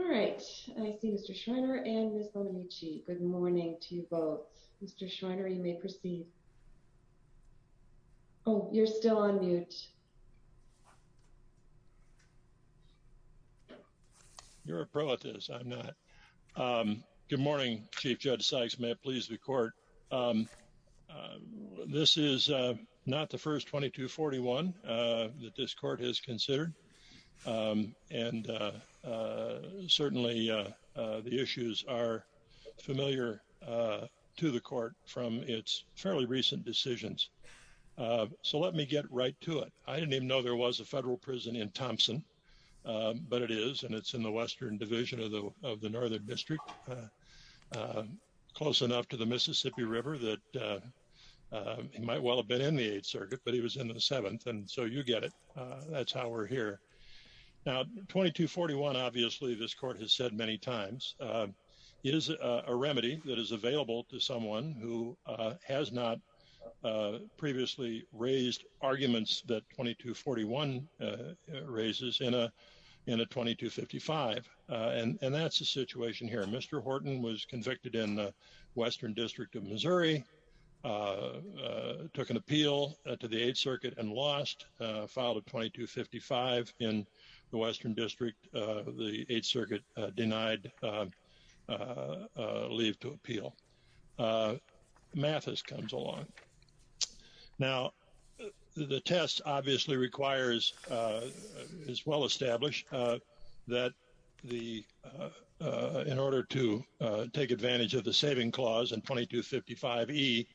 Alright, I see Mr. Schreiner and Ms. Bonamici. Good morning to you both. Mr. Schreiner, you may proceed. Oh, you're still on mute. You're a pro at this, I'm not. Good morning, Chief Judge Sykes may it please the court. This is not the first 2241 that this court has considered. And certainly, the issues are familiar to the court from its fairly recent decisions. So let me get right to it. I didn't even know there was a federal prison in Thompson. But it is and it's in the western division of the of the northern district. Close enough to the Mississippi River that he might well have been in the Eighth Circuit, but he was in the seventh. And so you get it. That's how we're here. Now, 2241. Obviously, this court has said many times is a remedy that is available to someone who has not previously raised arguments that 2241 raises in a in a 2255. And that's the situation here. Mr. Horton was convicted in the western district of Missouri, took an appeal to the Eighth Circuit and lost a file of 2255 in the western district. The Eighth Circuit denied leave to appeal. Mathis comes along. Now, the test obviously requires is well established that the in order to take advantage of the saving clause and 2255 E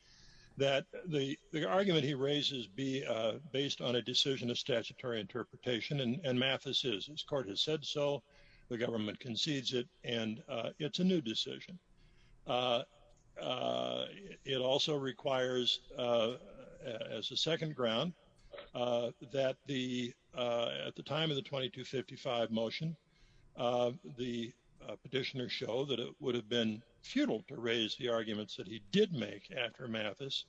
that the argument he raises be based on a decision of statutory interpretation. This court has said so. The government concedes it. And it's a new decision. It also requires as a second ground that the at the time of the 2255 motion, the petitioner show that it would have been futile to raise the arguments that he did make after Mathis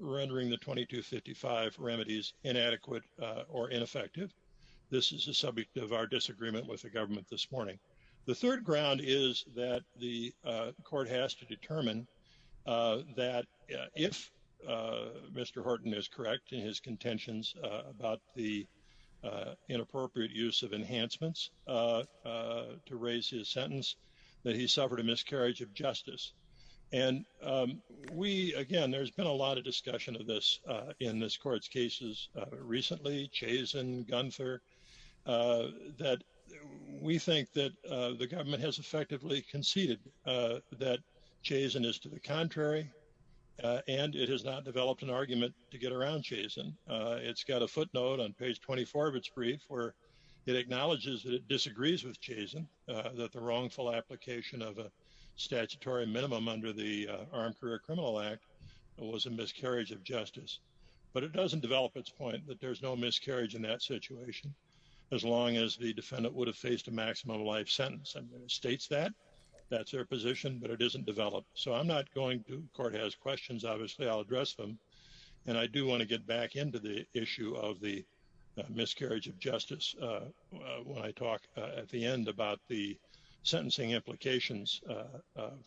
rendering the 2255 remedies inadequate or ineffective. This is a subject of our disagreement with the government this morning. The third ground is that the court has to determine that if Mr. Horton is correct in his contentions about the inappropriate use of enhancements to raise his sentence, that he suffered a miscarriage of justice. And we, again, there's been a lot of discussion of this in this court's cases recently, Chazen, Gunther, that we think that the government has effectively conceded that Chazen is to the contrary. And it has not developed an argument to get around Chazen. It's got a footnote on page 24 of its brief where it acknowledges that it disagrees with Chazen that the wrongful application of a statutory minimum under the Armed Career Criminal Act was a miscarriage of justice. But it doesn't develop its point that there's no miscarriage in that situation. As long as the defendant would have faced a maximum life sentence and states that that's their position, but it isn't developed. So I'm not going to court has questions. Obviously, I'll address them. And I do want to get back into the issue of the miscarriage of justice. When I talk at the end about the sentencing implications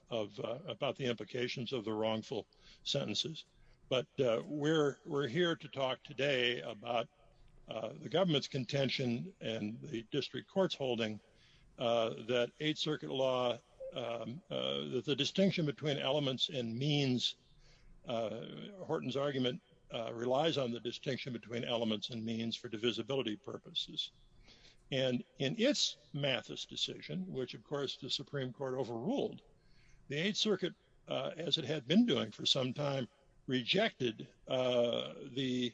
of about the implications of the wrongful sentences, but we're, we're here to talk today about the government's contention and the district courts holding that Eighth Circuit law. The distinction between elements and means Horton's argument relies on the distinction between elements and means for divisibility purposes. And in its Mathis decision, which of course the Supreme Court overruled the Eighth Circuit, as it had been doing for some time rejected the,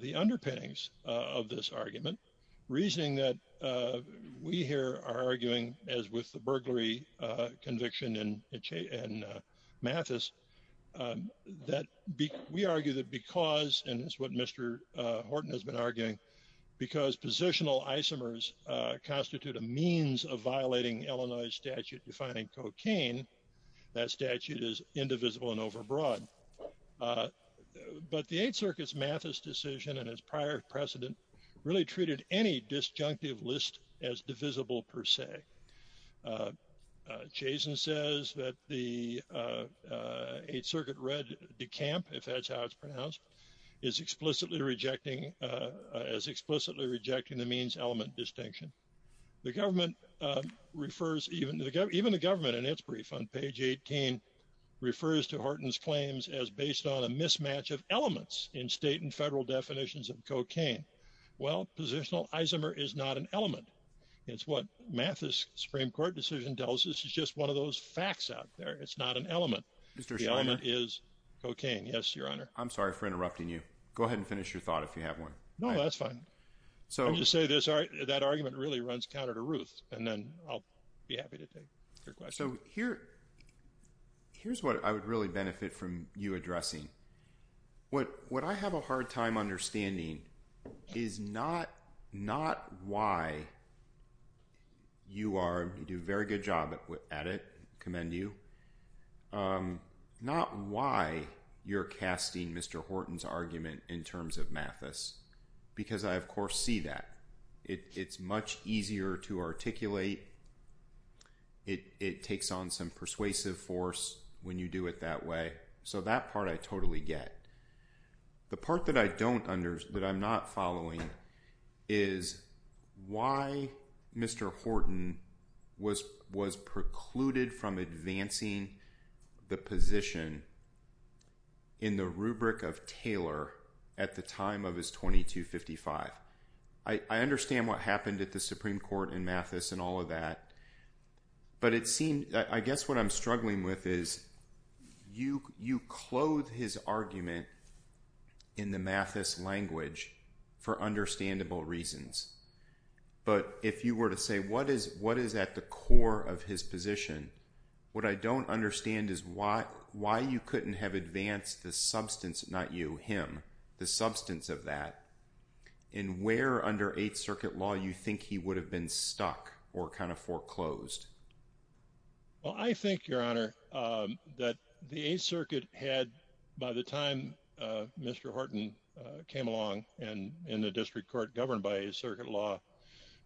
the underpinnings of this argument, reasoning that we here are arguing, as with the burglary conviction and and Mathis, that we argue that because and it's what Mr. Horton has been arguing, because positional isomers constitute a means of violating Illinois statute defining cocaine. That statute is indivisible and overbroad. But the Eighth Circuit's Mathis decision and his prior precedent really treated any disjunctive list as divisible per se. Jason says that the Eighth Circuit read the camp if that's how it's pronounced is explicitly rejecting as explicitly rejecting the means element distinction. The government refers even to the government, even the government and its brief on page 18 refers to Horton's claims as based on a mismatch of elements in state and federal definitions of cocaine. Well, positional isomer is not an element. It's what Mathis Supreme Court decision does. This is just one of those facts out there. It's not an element. The element is cocaine. Yes, Your Honor. I'm sorry for interrupting you. Go ahead and finish your thought if you have one. No, that's fine. So you say this. That argument really runs counter to Ruth. And then I'll be happy to take your question here. Here's what I would really benefit from you addressing. What what I have a hard time understanding is not not why. You are you do very good job at it. Commend you. Not why you're casting Mr. Horton's argument in terms of Mathis, because I, of course, see that it's much easier to articulate. It takes on some persuasive force when you do it that way. So that part I totally get. The part that I don't under that I'm not following is why Mr. Horton was was precluded from advancing the position. In the rubric of Taylor at the time of his twenty two fifty five. I understand what happened at the Supreme Court in Mathis and all of that. But it seemed I guess what I'm struggling with is you you clothe his argument in the Mathis language for understandable reasons. But if you were to say what is what is at the core of his position? What I don't understand is why why you couldn't have advanced the substance, not you, him, the substance of that. And where under Eighth Circuit law, you think he would have been stuck or kind of foreclosed? Well, I think, Your Honor, that the Eighth Circuit had by the time Mr. Horton came along and in the district court governed by a circuit law,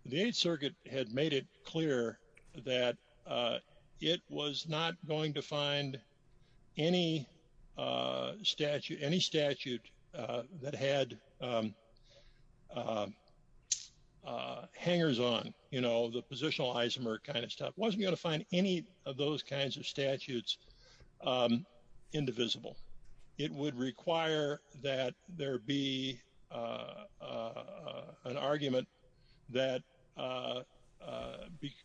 the Eighth Circuit had made it clear that it was not going to find any statute, any statute that had hangers on, you know, the positional isomer kind of stuff. Wasn't going to find any of those kinds of statutes indivisible. It would require that there be an argument that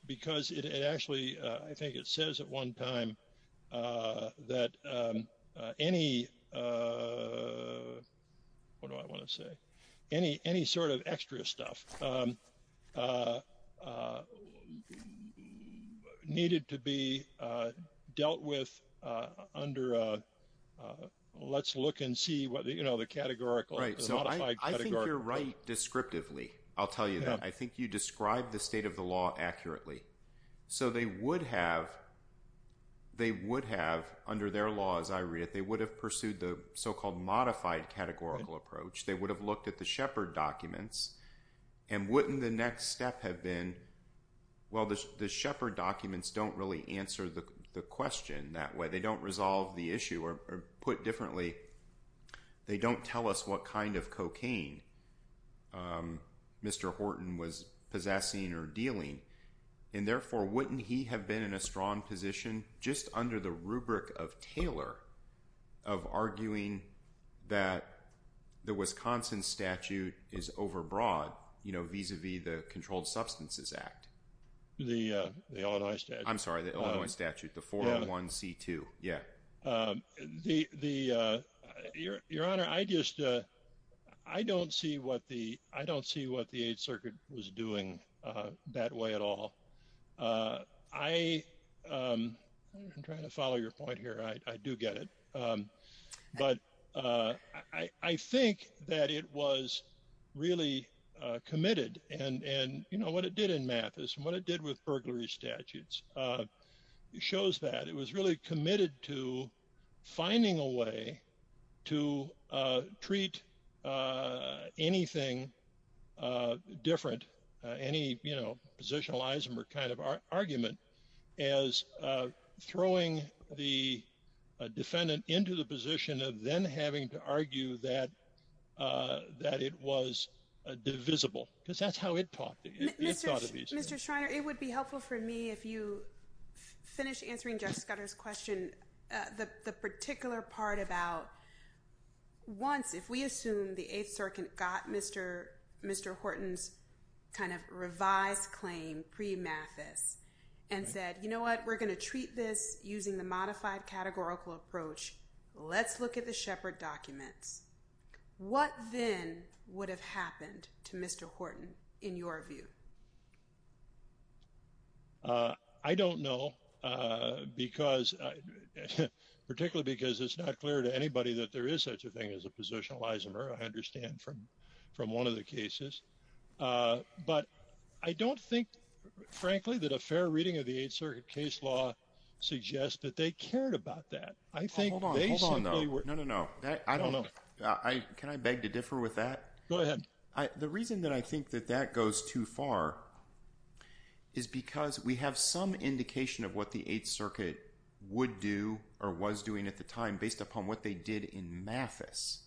because it actually I think it says at one time that any what do I want to say? Any any sort of extra stuff needed to be dealt with under a let's look and see what you know, the categorical right. So I think you're right. Descriptively, I'll tell you that I think you describe the state of the law accurately. So they would have, they would have under their law as I read it, they would have pursued the so-called modified categorical approach. They would have looked at the Shepard documents. And wouldn't the next step have been, well, the Shepard documents don't really answer the question that way. They don't resolve the issue or put differently. They don't tell us what kind of cocaine Mr. Horton was possessing or dealing. And therefore, wouldn't he have been in a strong position just under the rubric of Taylor of arguing that the Wisconsin statute is overbroad, you know, vis-a-vis the Controlled Substances Act. The Illinois statute, I'm sorry, the Illinois statute, the 401C2. Yeah, the your your honor, I just I don't see what the I don't see what the Eighth Circuit was doing that way at all. I am trying to follow your point here. I do get it. But I think that it was really committed and you know what it did in Mathis and what it did with burglary statutes. It shows that it was really committed to finding a way to treat anything different. Any positionalism or kind of argument as throwing the defendant into the position of then having to argue that that it was divisible because that's how it talked. Mr. Shriner, it would be helpful for me if you finish answering Jeff Scudder's question. The particular part about once if we assume the Eighth Circuit got Mr. Mr. Horton's kind of revised claim pre-Mathis and said, you know what? We're going to treat this using the modified categorical approach. Let's look at the Shepard documents. What then would have happened to Mr. Horton in your view? I don't know, because particularly because it's not clear to anybody that there is such a thing as a positionalism or I understand from from one of the cases. But I don't think, frankly, that a fair reading of the Eighth Circuit case law suggests that they cared about that. I think they simply were. No, no, no. I don't know. Can I beg to differ with that? Go ahead. The reason that I think that that goes too far is because we have some indication of what the Eighth Circuit would do or was doing at the time based upon what they did in Mathis.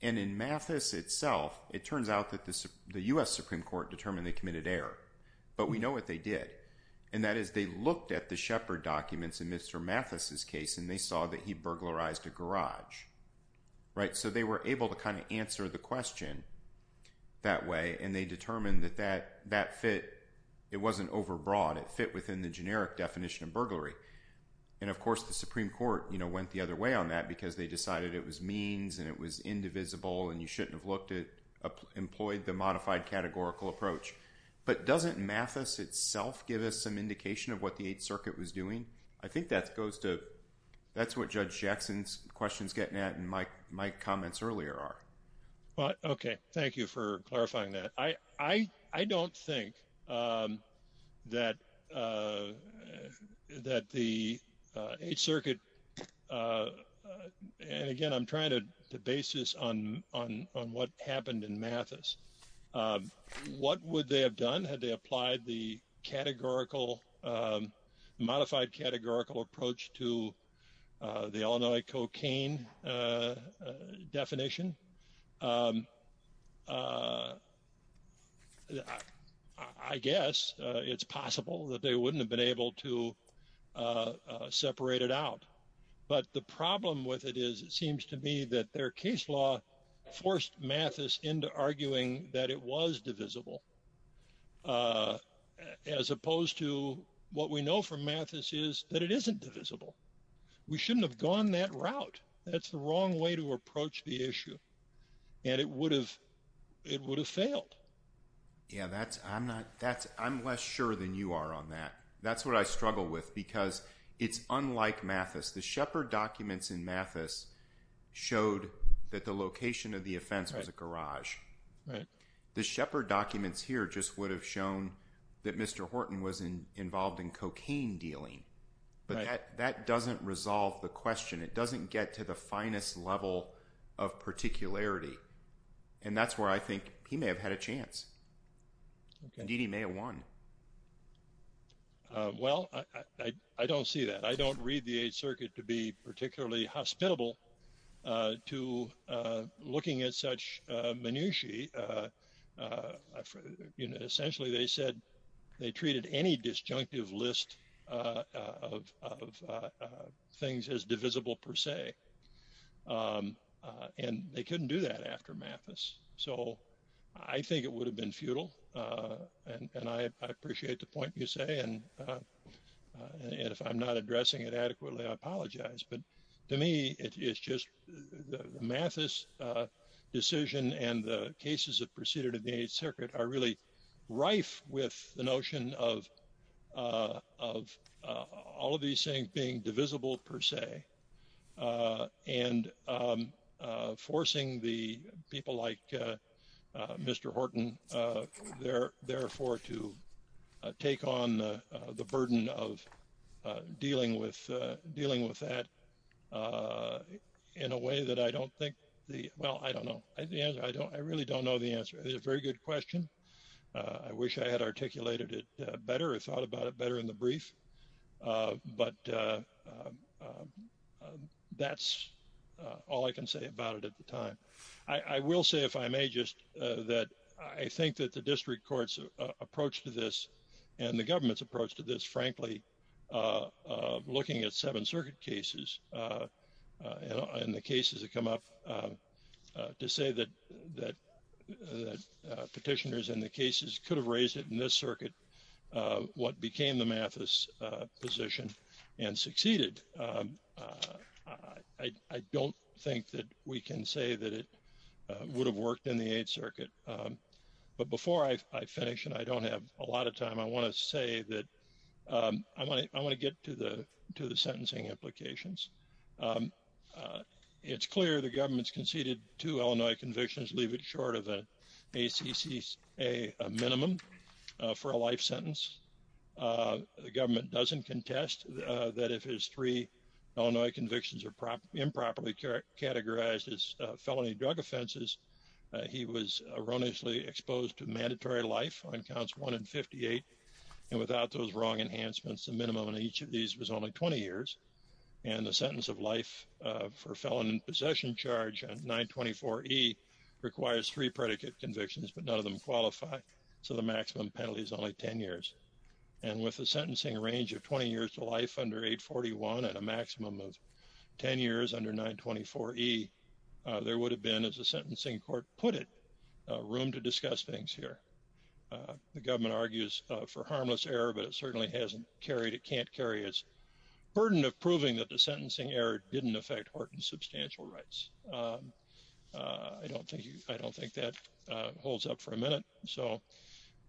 And in Mathis itself, it turns out that the US Supreme Court determined they committed error. But we know what they did. And that is they looked at the Shepard documents in Mr. Mathis's case and they saw that he burglarized a garage. Right. So they were able to kind of answer the question that way. And they determined that that that fit. It wasn't overbroad. It fit within the generic definition of burglary. And, of course, the Supreme Court went the other way on that because they decided it was means and it was indivisible. And you shouldn't have looked at employed the modified categorical approach. But doesn't Mathis itself give us some indication of what the Eighth Circuit was doing? I think that goes to that's what Judge Jackson's question is getting at and my comments earlier are. Okay. Thank you for clarifying that. I don't think that that the Eighth Circuit and again, I'm trying to base this on what happened in Mathis. What would they have done had they applied the categorical modified categorical approach to the Illinois cocaine definition? I guess it's possible that they wouldn't have been able to separate it out. But the problem with it is it seems to me that their case law forced Mathis into arguing that it was divisible, as opposed to what we know from Mathis is that it isn't divisible. We shouldn't have gone that route. That's the wrong way to approach the issue. And it would have it would have failed. Yeah, that's I'm not that's I'm less sure than you are on that. That's what I struggle with because it's unlike Mathis. The Shepard documents in Mathis showed that the location of the offense was a garage. The Shepard documents here just would have shown that Mr. Horton was involved in cocaine dealing. But that doesn't resolve the question. It doesn't get to the finest level of particularity. And that's where I think he may have had a chance. Indeed, he may have won. Well, I don't see that. I don't read the Eighth Circuit to be particularly hospitable to looking at such minutiae. Essentially, they said they treated any disjunctive list of things as divisible per se. And they couldn't do that after Mathis. So I think it would have been futile. And I appreciate the point you say. And if I'm not addressing it adequately, I apologize. But to me, it's just the Mathis decision and the cases that proceeded in the Eighth Circuit are really rife with the notion of all of these things being divisible per se. And forcing the people like Mr. Horton, therefore, to take on the burden of dealing with that in a way that I don't think the — well, I don't know. I really don't know the answer. It's a very good question. I wish I had articulated it better or thought about it better in the brief. But that's all I can say about it at the time. I will say, if I may, just that I think that the district court's approach to this and the government's approach to this, frankly, looking at Seventh Circuit cases and the cases that come up, to say that petitioners and the cases could have raised it in this circuit, what became the Mathis position and succeeded. I don't think that we can say that it would have worked in the Eighth Circuit. But before I finish, and I don't have a lot of time, I want to say that I want to get to the sentencing implications. It's clear the government's conceded two Illinois convictions, leave it short of an ACCA minimum for a life sentence. The government doesn't contest that if his three Illinois convictions are improperly categorized as felony drug offenses, he was erroneously exposed to mandatory life on counts 1 and 58. And without those wrong enhancements, the minimum on each of these was only 20 years. And the sentence of life for felon in possession charge on 924E requires three predicate convictions, but none of them qualify. So the maximum penalty is only 10 years. And with a sentencing range of 20 years to life under 841 and a maximum of 10 years under 924E, there would have been, as a sentencing court put it, room to discuss things here. The government argues for harmless error, but it certainly hasn't carried, it can't carry its burden of proving that the sentencing error didn't affect Horton's substantial rights. I don't think that holds up for a minute. So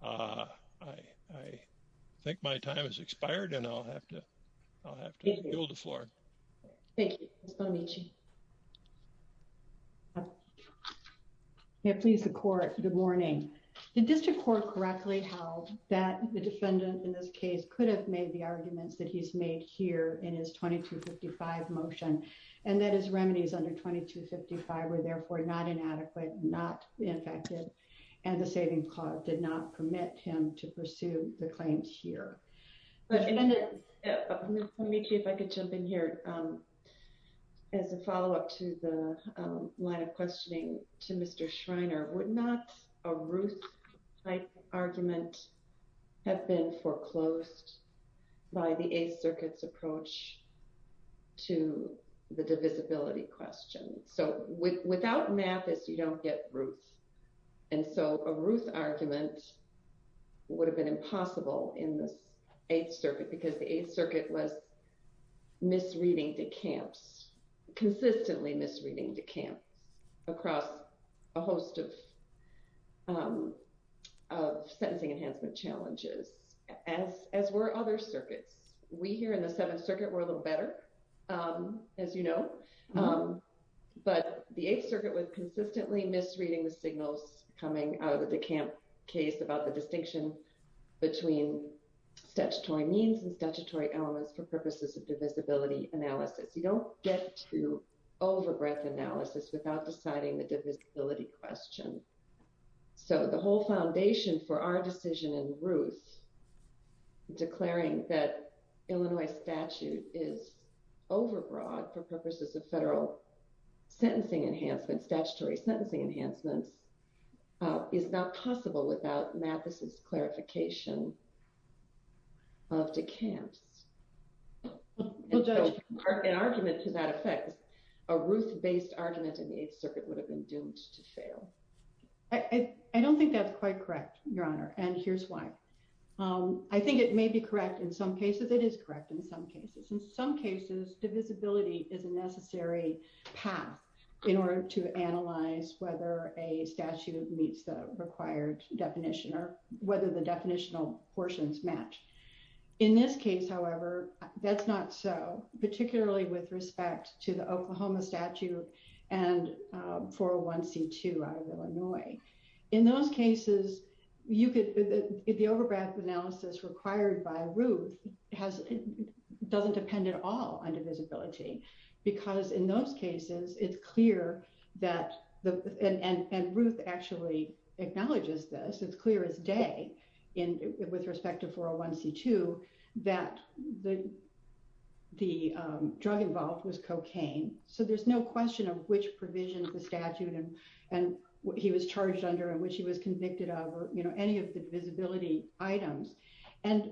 I think my time has expired and I'll have to yield the floor. Thank you. Ms. Bonamici. Yeah, please, the court. Good morning. The district court correctly held that the defendant in this case could have made the arguments that he's made here in his 2255 motion, and that his remedies under 2255 were therefore not inadequate, not effective, and the saving clause did not permit him to pursue the claims here. Ms. Bonamici, if I could jump in here as a follow up to the line of questioning to Mr. Schreiner, would not a Ruth type argument have been foreclosed by the Eighth Circuit's approach to the divisibility question? So without Mathis, you don't get Ruth. And so a Ruth argument would have been impossible in the Eighth Circuit because the Eighth Circuit was misreading decamps, consistently misreading decamps across a host of sentencing enhancement challenges, as were other circuits. We here in the Seventh Circuit, we're a little better, as you know, but the Eighth Circuit was consistently misreading the signals coming out of the decamp case about the distinction between statutory means and statutory elements for purposes of divisibility analysis. You don't get to over breadth analysis without deciding the divisibility question. So the whole foundation for our decision in Ruth, declaring that Illinois statute is over broad for purposes of federal sentencing enhancement, statutory sentencing enhancements, is not possible without Mathis's clarification of decamps. An argument to that effect, a Ruth based argument in the Eighth Circuit would have been doomed to fail. I don't think that's quite correct, Your Honor, and here's why. I think it may be correct in some cases, it is correct in some cases. In some cases, divisibility is a necessary path in order to analyze whether a statute meets the required definition or whether the definitional portions match. In this case, however, that's not so, particularly with respect to the Oklahoma statute and 401C2 out of Illinois. In those cases, the over breadth analysis required by Ruth doesn't depend at all on divisibility, because in those cases, it's clear that and Ruth actually acknowledges this, it's clear as day with respect to 401C2, that the drug involved was cocaine. So there's no question of which provision of the statute and what he was charged under and which he was convicted of, you know, any of the visibility items. And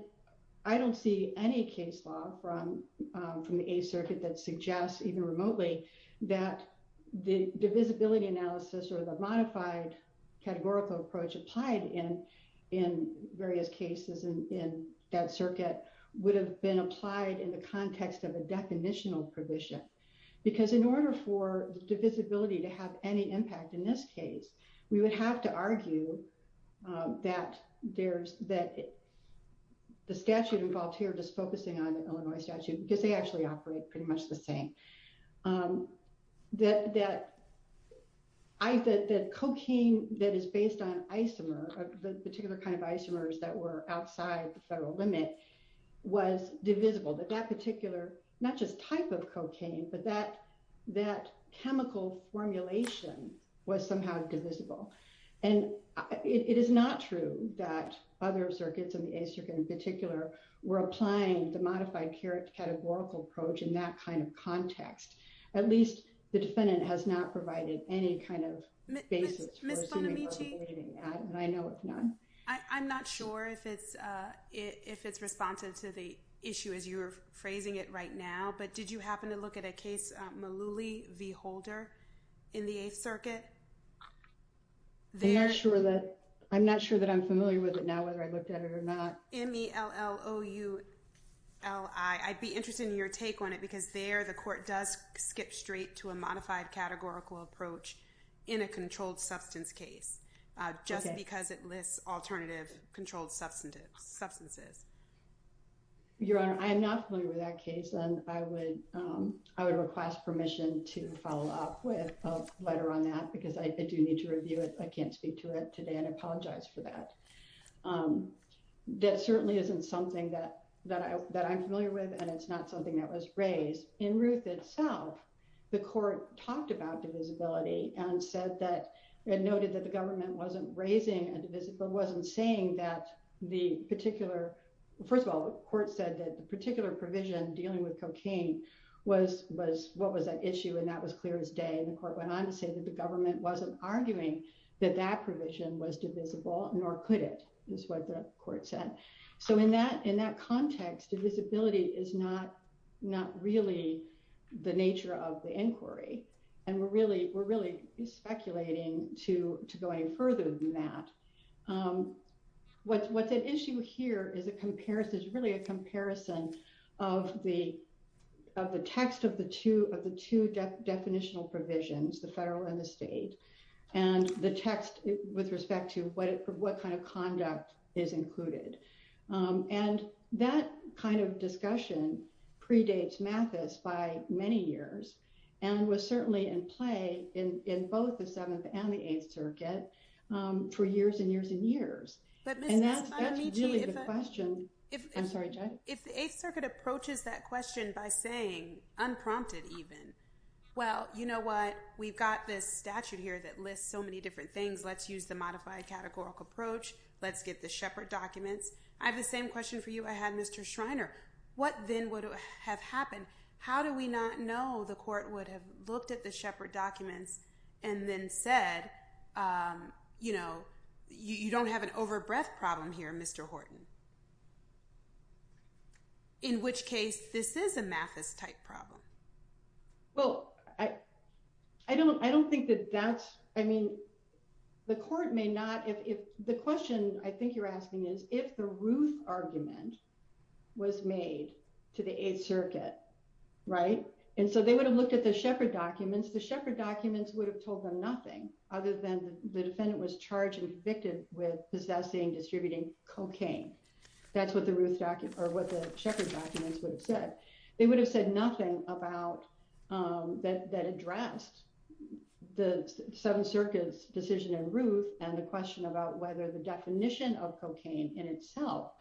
I don't see any case law from the Eighth Circuit that suggests, even remotely, that the divisibility analysis or the modified categorical approach applied in various cases in that circuit would have been applied in the context of a definitional provision. Because in order for divisibility to have any impact in this case, we would have to argue that the statute involved here, just focusing on the Illinois statute, because they actually operate pretty much the same, that cocaine that is based on isomer, the particular kind of isomers that were outside the federal limit, was divisible. That particular, not just type of cocaine, but that chemical formulation was somehow divisible. And it is not true that other circuits, in the Eighth Circuit in particular, were applying the modified categorical approach in that kind of context. At least the defendant has not provided any kind of basis for assuming that, and I know it's not. I'm not sure if it's responsive to the issue as you're phrasing it right now, but did you happen to look at a case, Malouli v. Holder, in the Eighth Circuit? I'm not sure that I'm familiar with it now, whether I looked at it or not. M-E-L-L-O-U-L-I. I'd be interested in your take on it, because there the court does skip straight to a modified categorical approach in a controlled substance case, just because it lists alternative controlled substances. Your Honor, I am not familiar with that case, and I would request permission to follow up with a letter on that, because I do need to review it. I can't speak to it today, and I apologize for that. That certainly isn't something that I'm familiar with, and it's not something that was raised. In Ruth itself, the court talked about divisibility and said that, and noted that the government wasn't raising a divisible, wasn't saying that the particular, first of all, the court said that the particular provision dealing with cocaine was what was at issue, and that was clear as day, and the court went on to say that the government wasn't arguing that that provision was divisible, nor could it, is what the court said. So in that context, divisibility is not really the nature of the inquiry, and we're really speculating to go any further than that. What's at issue here is really a comparison of the text of the two definitional provisions, the federal and the state, and the text with respect to what kind of conduct is included. And that kind of discussion predates Mathis by many years, and was certainly in play in both the Seventh and the Eighth Circuit for years and years and years. And that's really the question. I'm sorry, Judge? If the Eighth Circuit approaches that question by saying, unprompted even, well, you know what, we've got this statute here that lists so many different things, let's use the modified categorical approach, let's get the Shepard documents. I have the same question for you I had, Mr. Schreiner. What then would have happened? How do we not know the court would have looked at the Shepard documents and then said, you know, you don't have an overbreath problem here, Mr. Horton? In which case, this is a Mathis-type problem. Well, I don't think that that's, I mean, the court may not, if the question I think you're asking is if the Ruth argument was made to the Eighth Circuit, right? And so they would have looked at the Shepard documents, the Shepard documents would have told them nothing other than the defendant was charged and convicted with possessing, distributing cocaine. That's what the Shepard documents would have said. They would have said nothing about, that addressed the Seventh Circuit's decision in Ruth and the question about whether the definition of cocaine in itself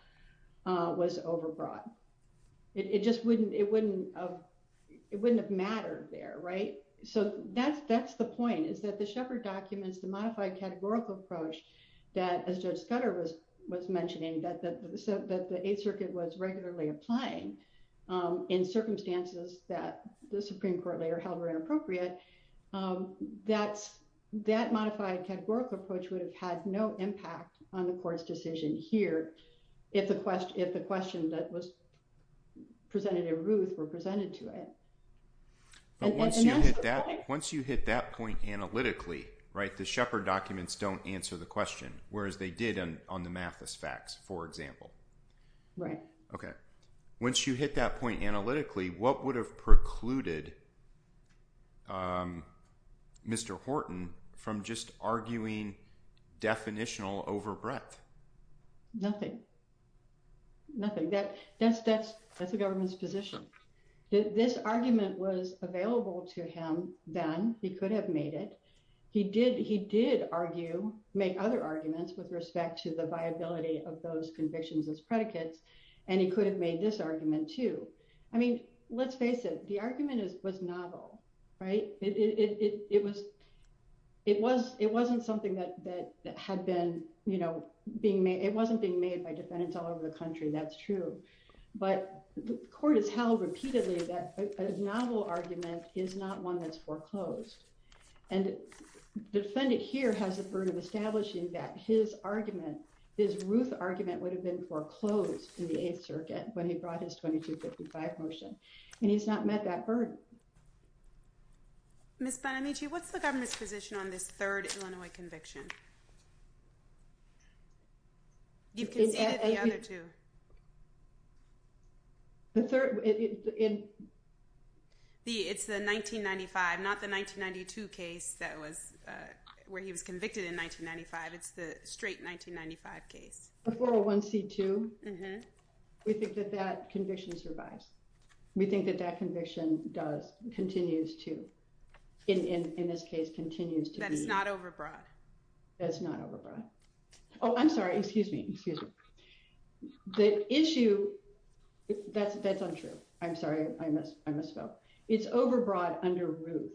was overbroad. It just wouldn't, it wouldn't have mattered there, right? So that's the point, is that the Shepard documents, the modified categorical approach that, as Judge Scudder was mentioning, that the Eighth Circuit was regularly applying in circumstances that the Supreme But once you hit that, once you hit that point analytically, right, the Shepard documents don't answer the question, whereas they did on the Mathis facts, for example. Right. Okay. Once you hit that point analytically, what would have precluded Mr. Horton from just arguing definitional overbreath? Nothing. Nothing. That's, that's, that's the government's position. This argument was available to him then, he could have made it. He did, he did argue, make other arguments with respect to the viability of those convictions as predicates, and he could have made this argument too. I mean, let's face it, the argument was novel, right? It was, it was, it wasn't something that had been, you know, being made, it wasn't being made by defendants all over the country, that's true. But the court has held repeatedly that novel argument is not one that's foreclosed and defendant here has a burden of establishing that his argument, his Ruth argument would have been foreclosed in the Eighth Circuit when he brought his 2255 motion, and he's not met that burden. Miss Bonamici, what's the government's position on this third Illinois conviction? You've conceded the other two. The third, it's the 1995, not the 1992 case that was, where he was convicted in 1995, it's the straight 1995 case. The 401C2, we think that that conviction survives. We think that that conviction does, continues to, in this case, continues to be. That's not overbroad. That's not overbroad. Oh, I'm sorry, excuse me, excuse me. The issue, that's untrue. I'm sorry, I misspoke. It's overbroad under Ruth.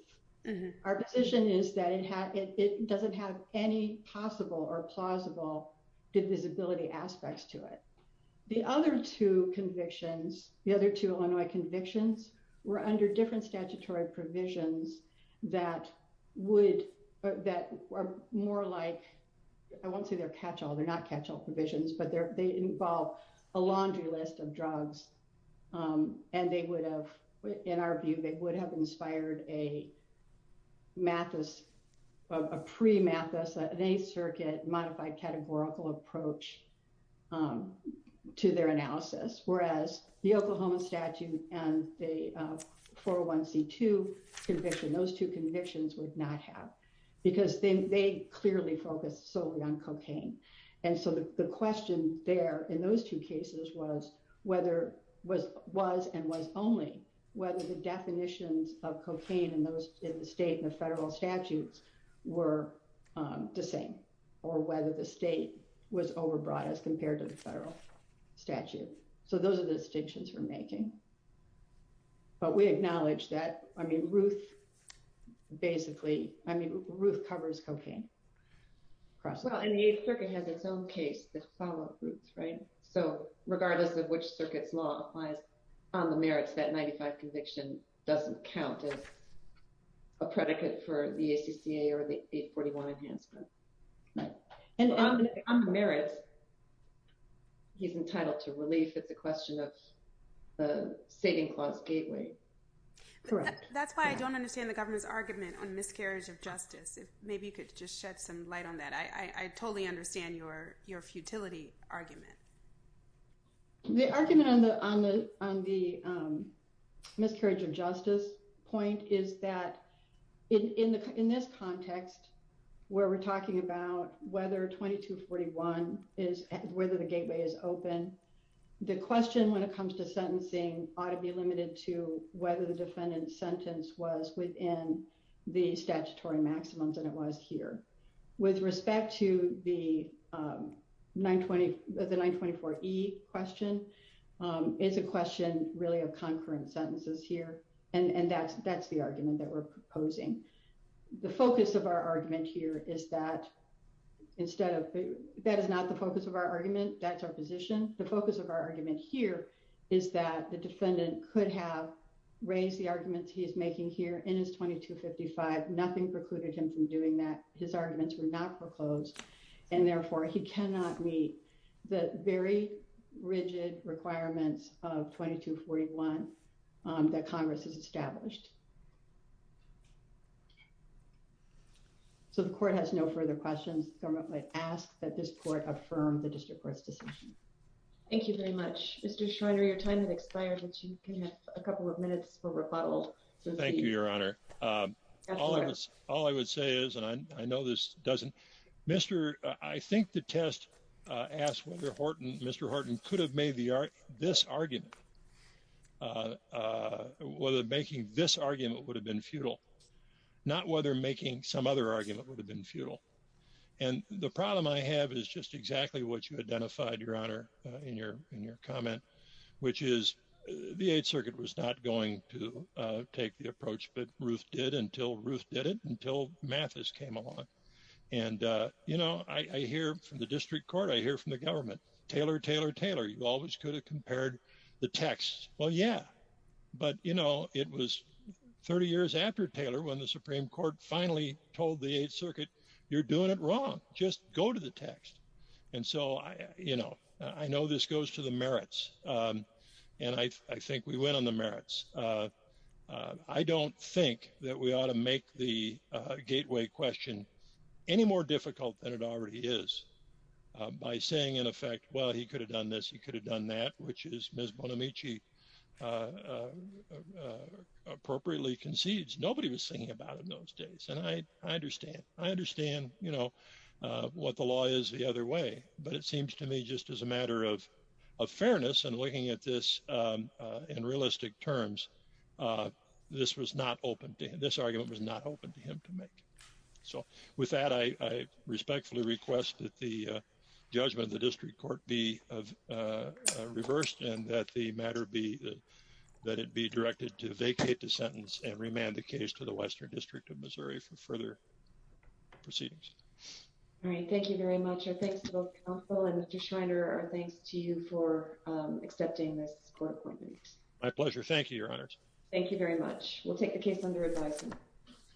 Our position is that it doesn't have any possible or plausible divisibility aspects to it. The other two convictions, the other two Illinois convictions were under different statutory provisions that would, that were more like, I won't say they're catch-all, they're not catch-all provisions, but they involve a laundry list of drugs. And they would have, in our view, they would have inspired a Mathis, a pre-Mathis, an Eighth Circuit modified categorical approach to their analysis, whereas the Oklahoma statute and the 401C2 conviction, those two convictions would not have. Because they clearly focused solely on cocaine. And so the question there in those two cases was whether, was and was only, whether the definitions of cocaine in the state and the federal statutes were the same, or whether the state was overbroad as compared to the federal statute. So those are the distinctions we're making. But we acknowledge that, I mean, Ruth, basically, I mean, Ruth covers cocaine. Well, and the Eighth Circuit has its own case that follows Ruth's, right? So regardless of which circuit's law applies on the merits, that 95 conviction doesn't count as a predicate for the ACCA or the 841 enhancement. And on the merits, he's entitled to relief at the question of the saving clause gateway. That's why I don't understand the government's argument on miscarriage of justice. Maybe you could just shed some light on that. I totally understand your futility argument. The argument on the miscarriage of justice point is that in this context, where we're talking about whether 2241 is, whether the gateway is open, the question when it comes to sentencing ought to be limited to whether the defendant's sentence was within the statutory maximums and it was here. With respect to the 924E question, it's a question really of concurrent sentences here. And that's the argument that we're proposing. The focus of our argument here is that instead of, that is not the focus of our argument. That's our position. The focus of our argument here is that the defendant could have raised the arguments he's making here in his 2255. Nothing precluded him from doing that. His arguments were not proposed, and therefore he cannot meet the very rigid requirements of 2241 that Congress has established. So the court has no further questions. The government might ask that this court affirm the district court's decision. Thank you very much. Mr. Schreiner, your time has expired, but you can have a couple of minutes for rebuttal. Thank you, Your Honor. All I would say is, and I know this doesn't, Mr., I think the test asked whether Mr. Horton could have made this argument, whether making this argument would have been futile, not whether making some other argument would have been futile. And the problem I have is just exactly what you identified, Your Honor, in your comment, which is the Eighth Circuit was not going to take the approach that Ruth did until Ruth did it, until Mathis came along. And, you know, I hear from the district court, I hear from the government, Taylor, Taylor, Taylor, you always could have compared the text. Well, yeah, but, you know, it was 30 years after Taylor when the Supreme Court finally told the Eighth Circuit, you're doing it wrong. Just go to the text. And so, you know, I know this goes to the merits, and I think we went on the merits. I don't think that we ought to make the gateway question any more difficult than it already is by saying, in effect, well, he could have done this. He could have done that, which is Ms. Bonamici appropriately concedes. Nobody was thinking about it in those days. And I understand. I understand, you know, what the law is the other way. But it seems to me just as a matter of fairness and looking at this in realistic terms, this was not open to him. This argument was not open to him to make. So with that, I respectfully request that the judgment of the district court be reversed and that the matter be that it be directed to vacate the sentence and remand the case to the Western District of Missouri for further proceedings. All right. Thank you very much. Thanks to both counsel and Mr. Schreiner. Our thanks to you for accepting this court appointment. My pleasure. Thank you, Your Honors. Thank you very much. We'll take the case under advisement.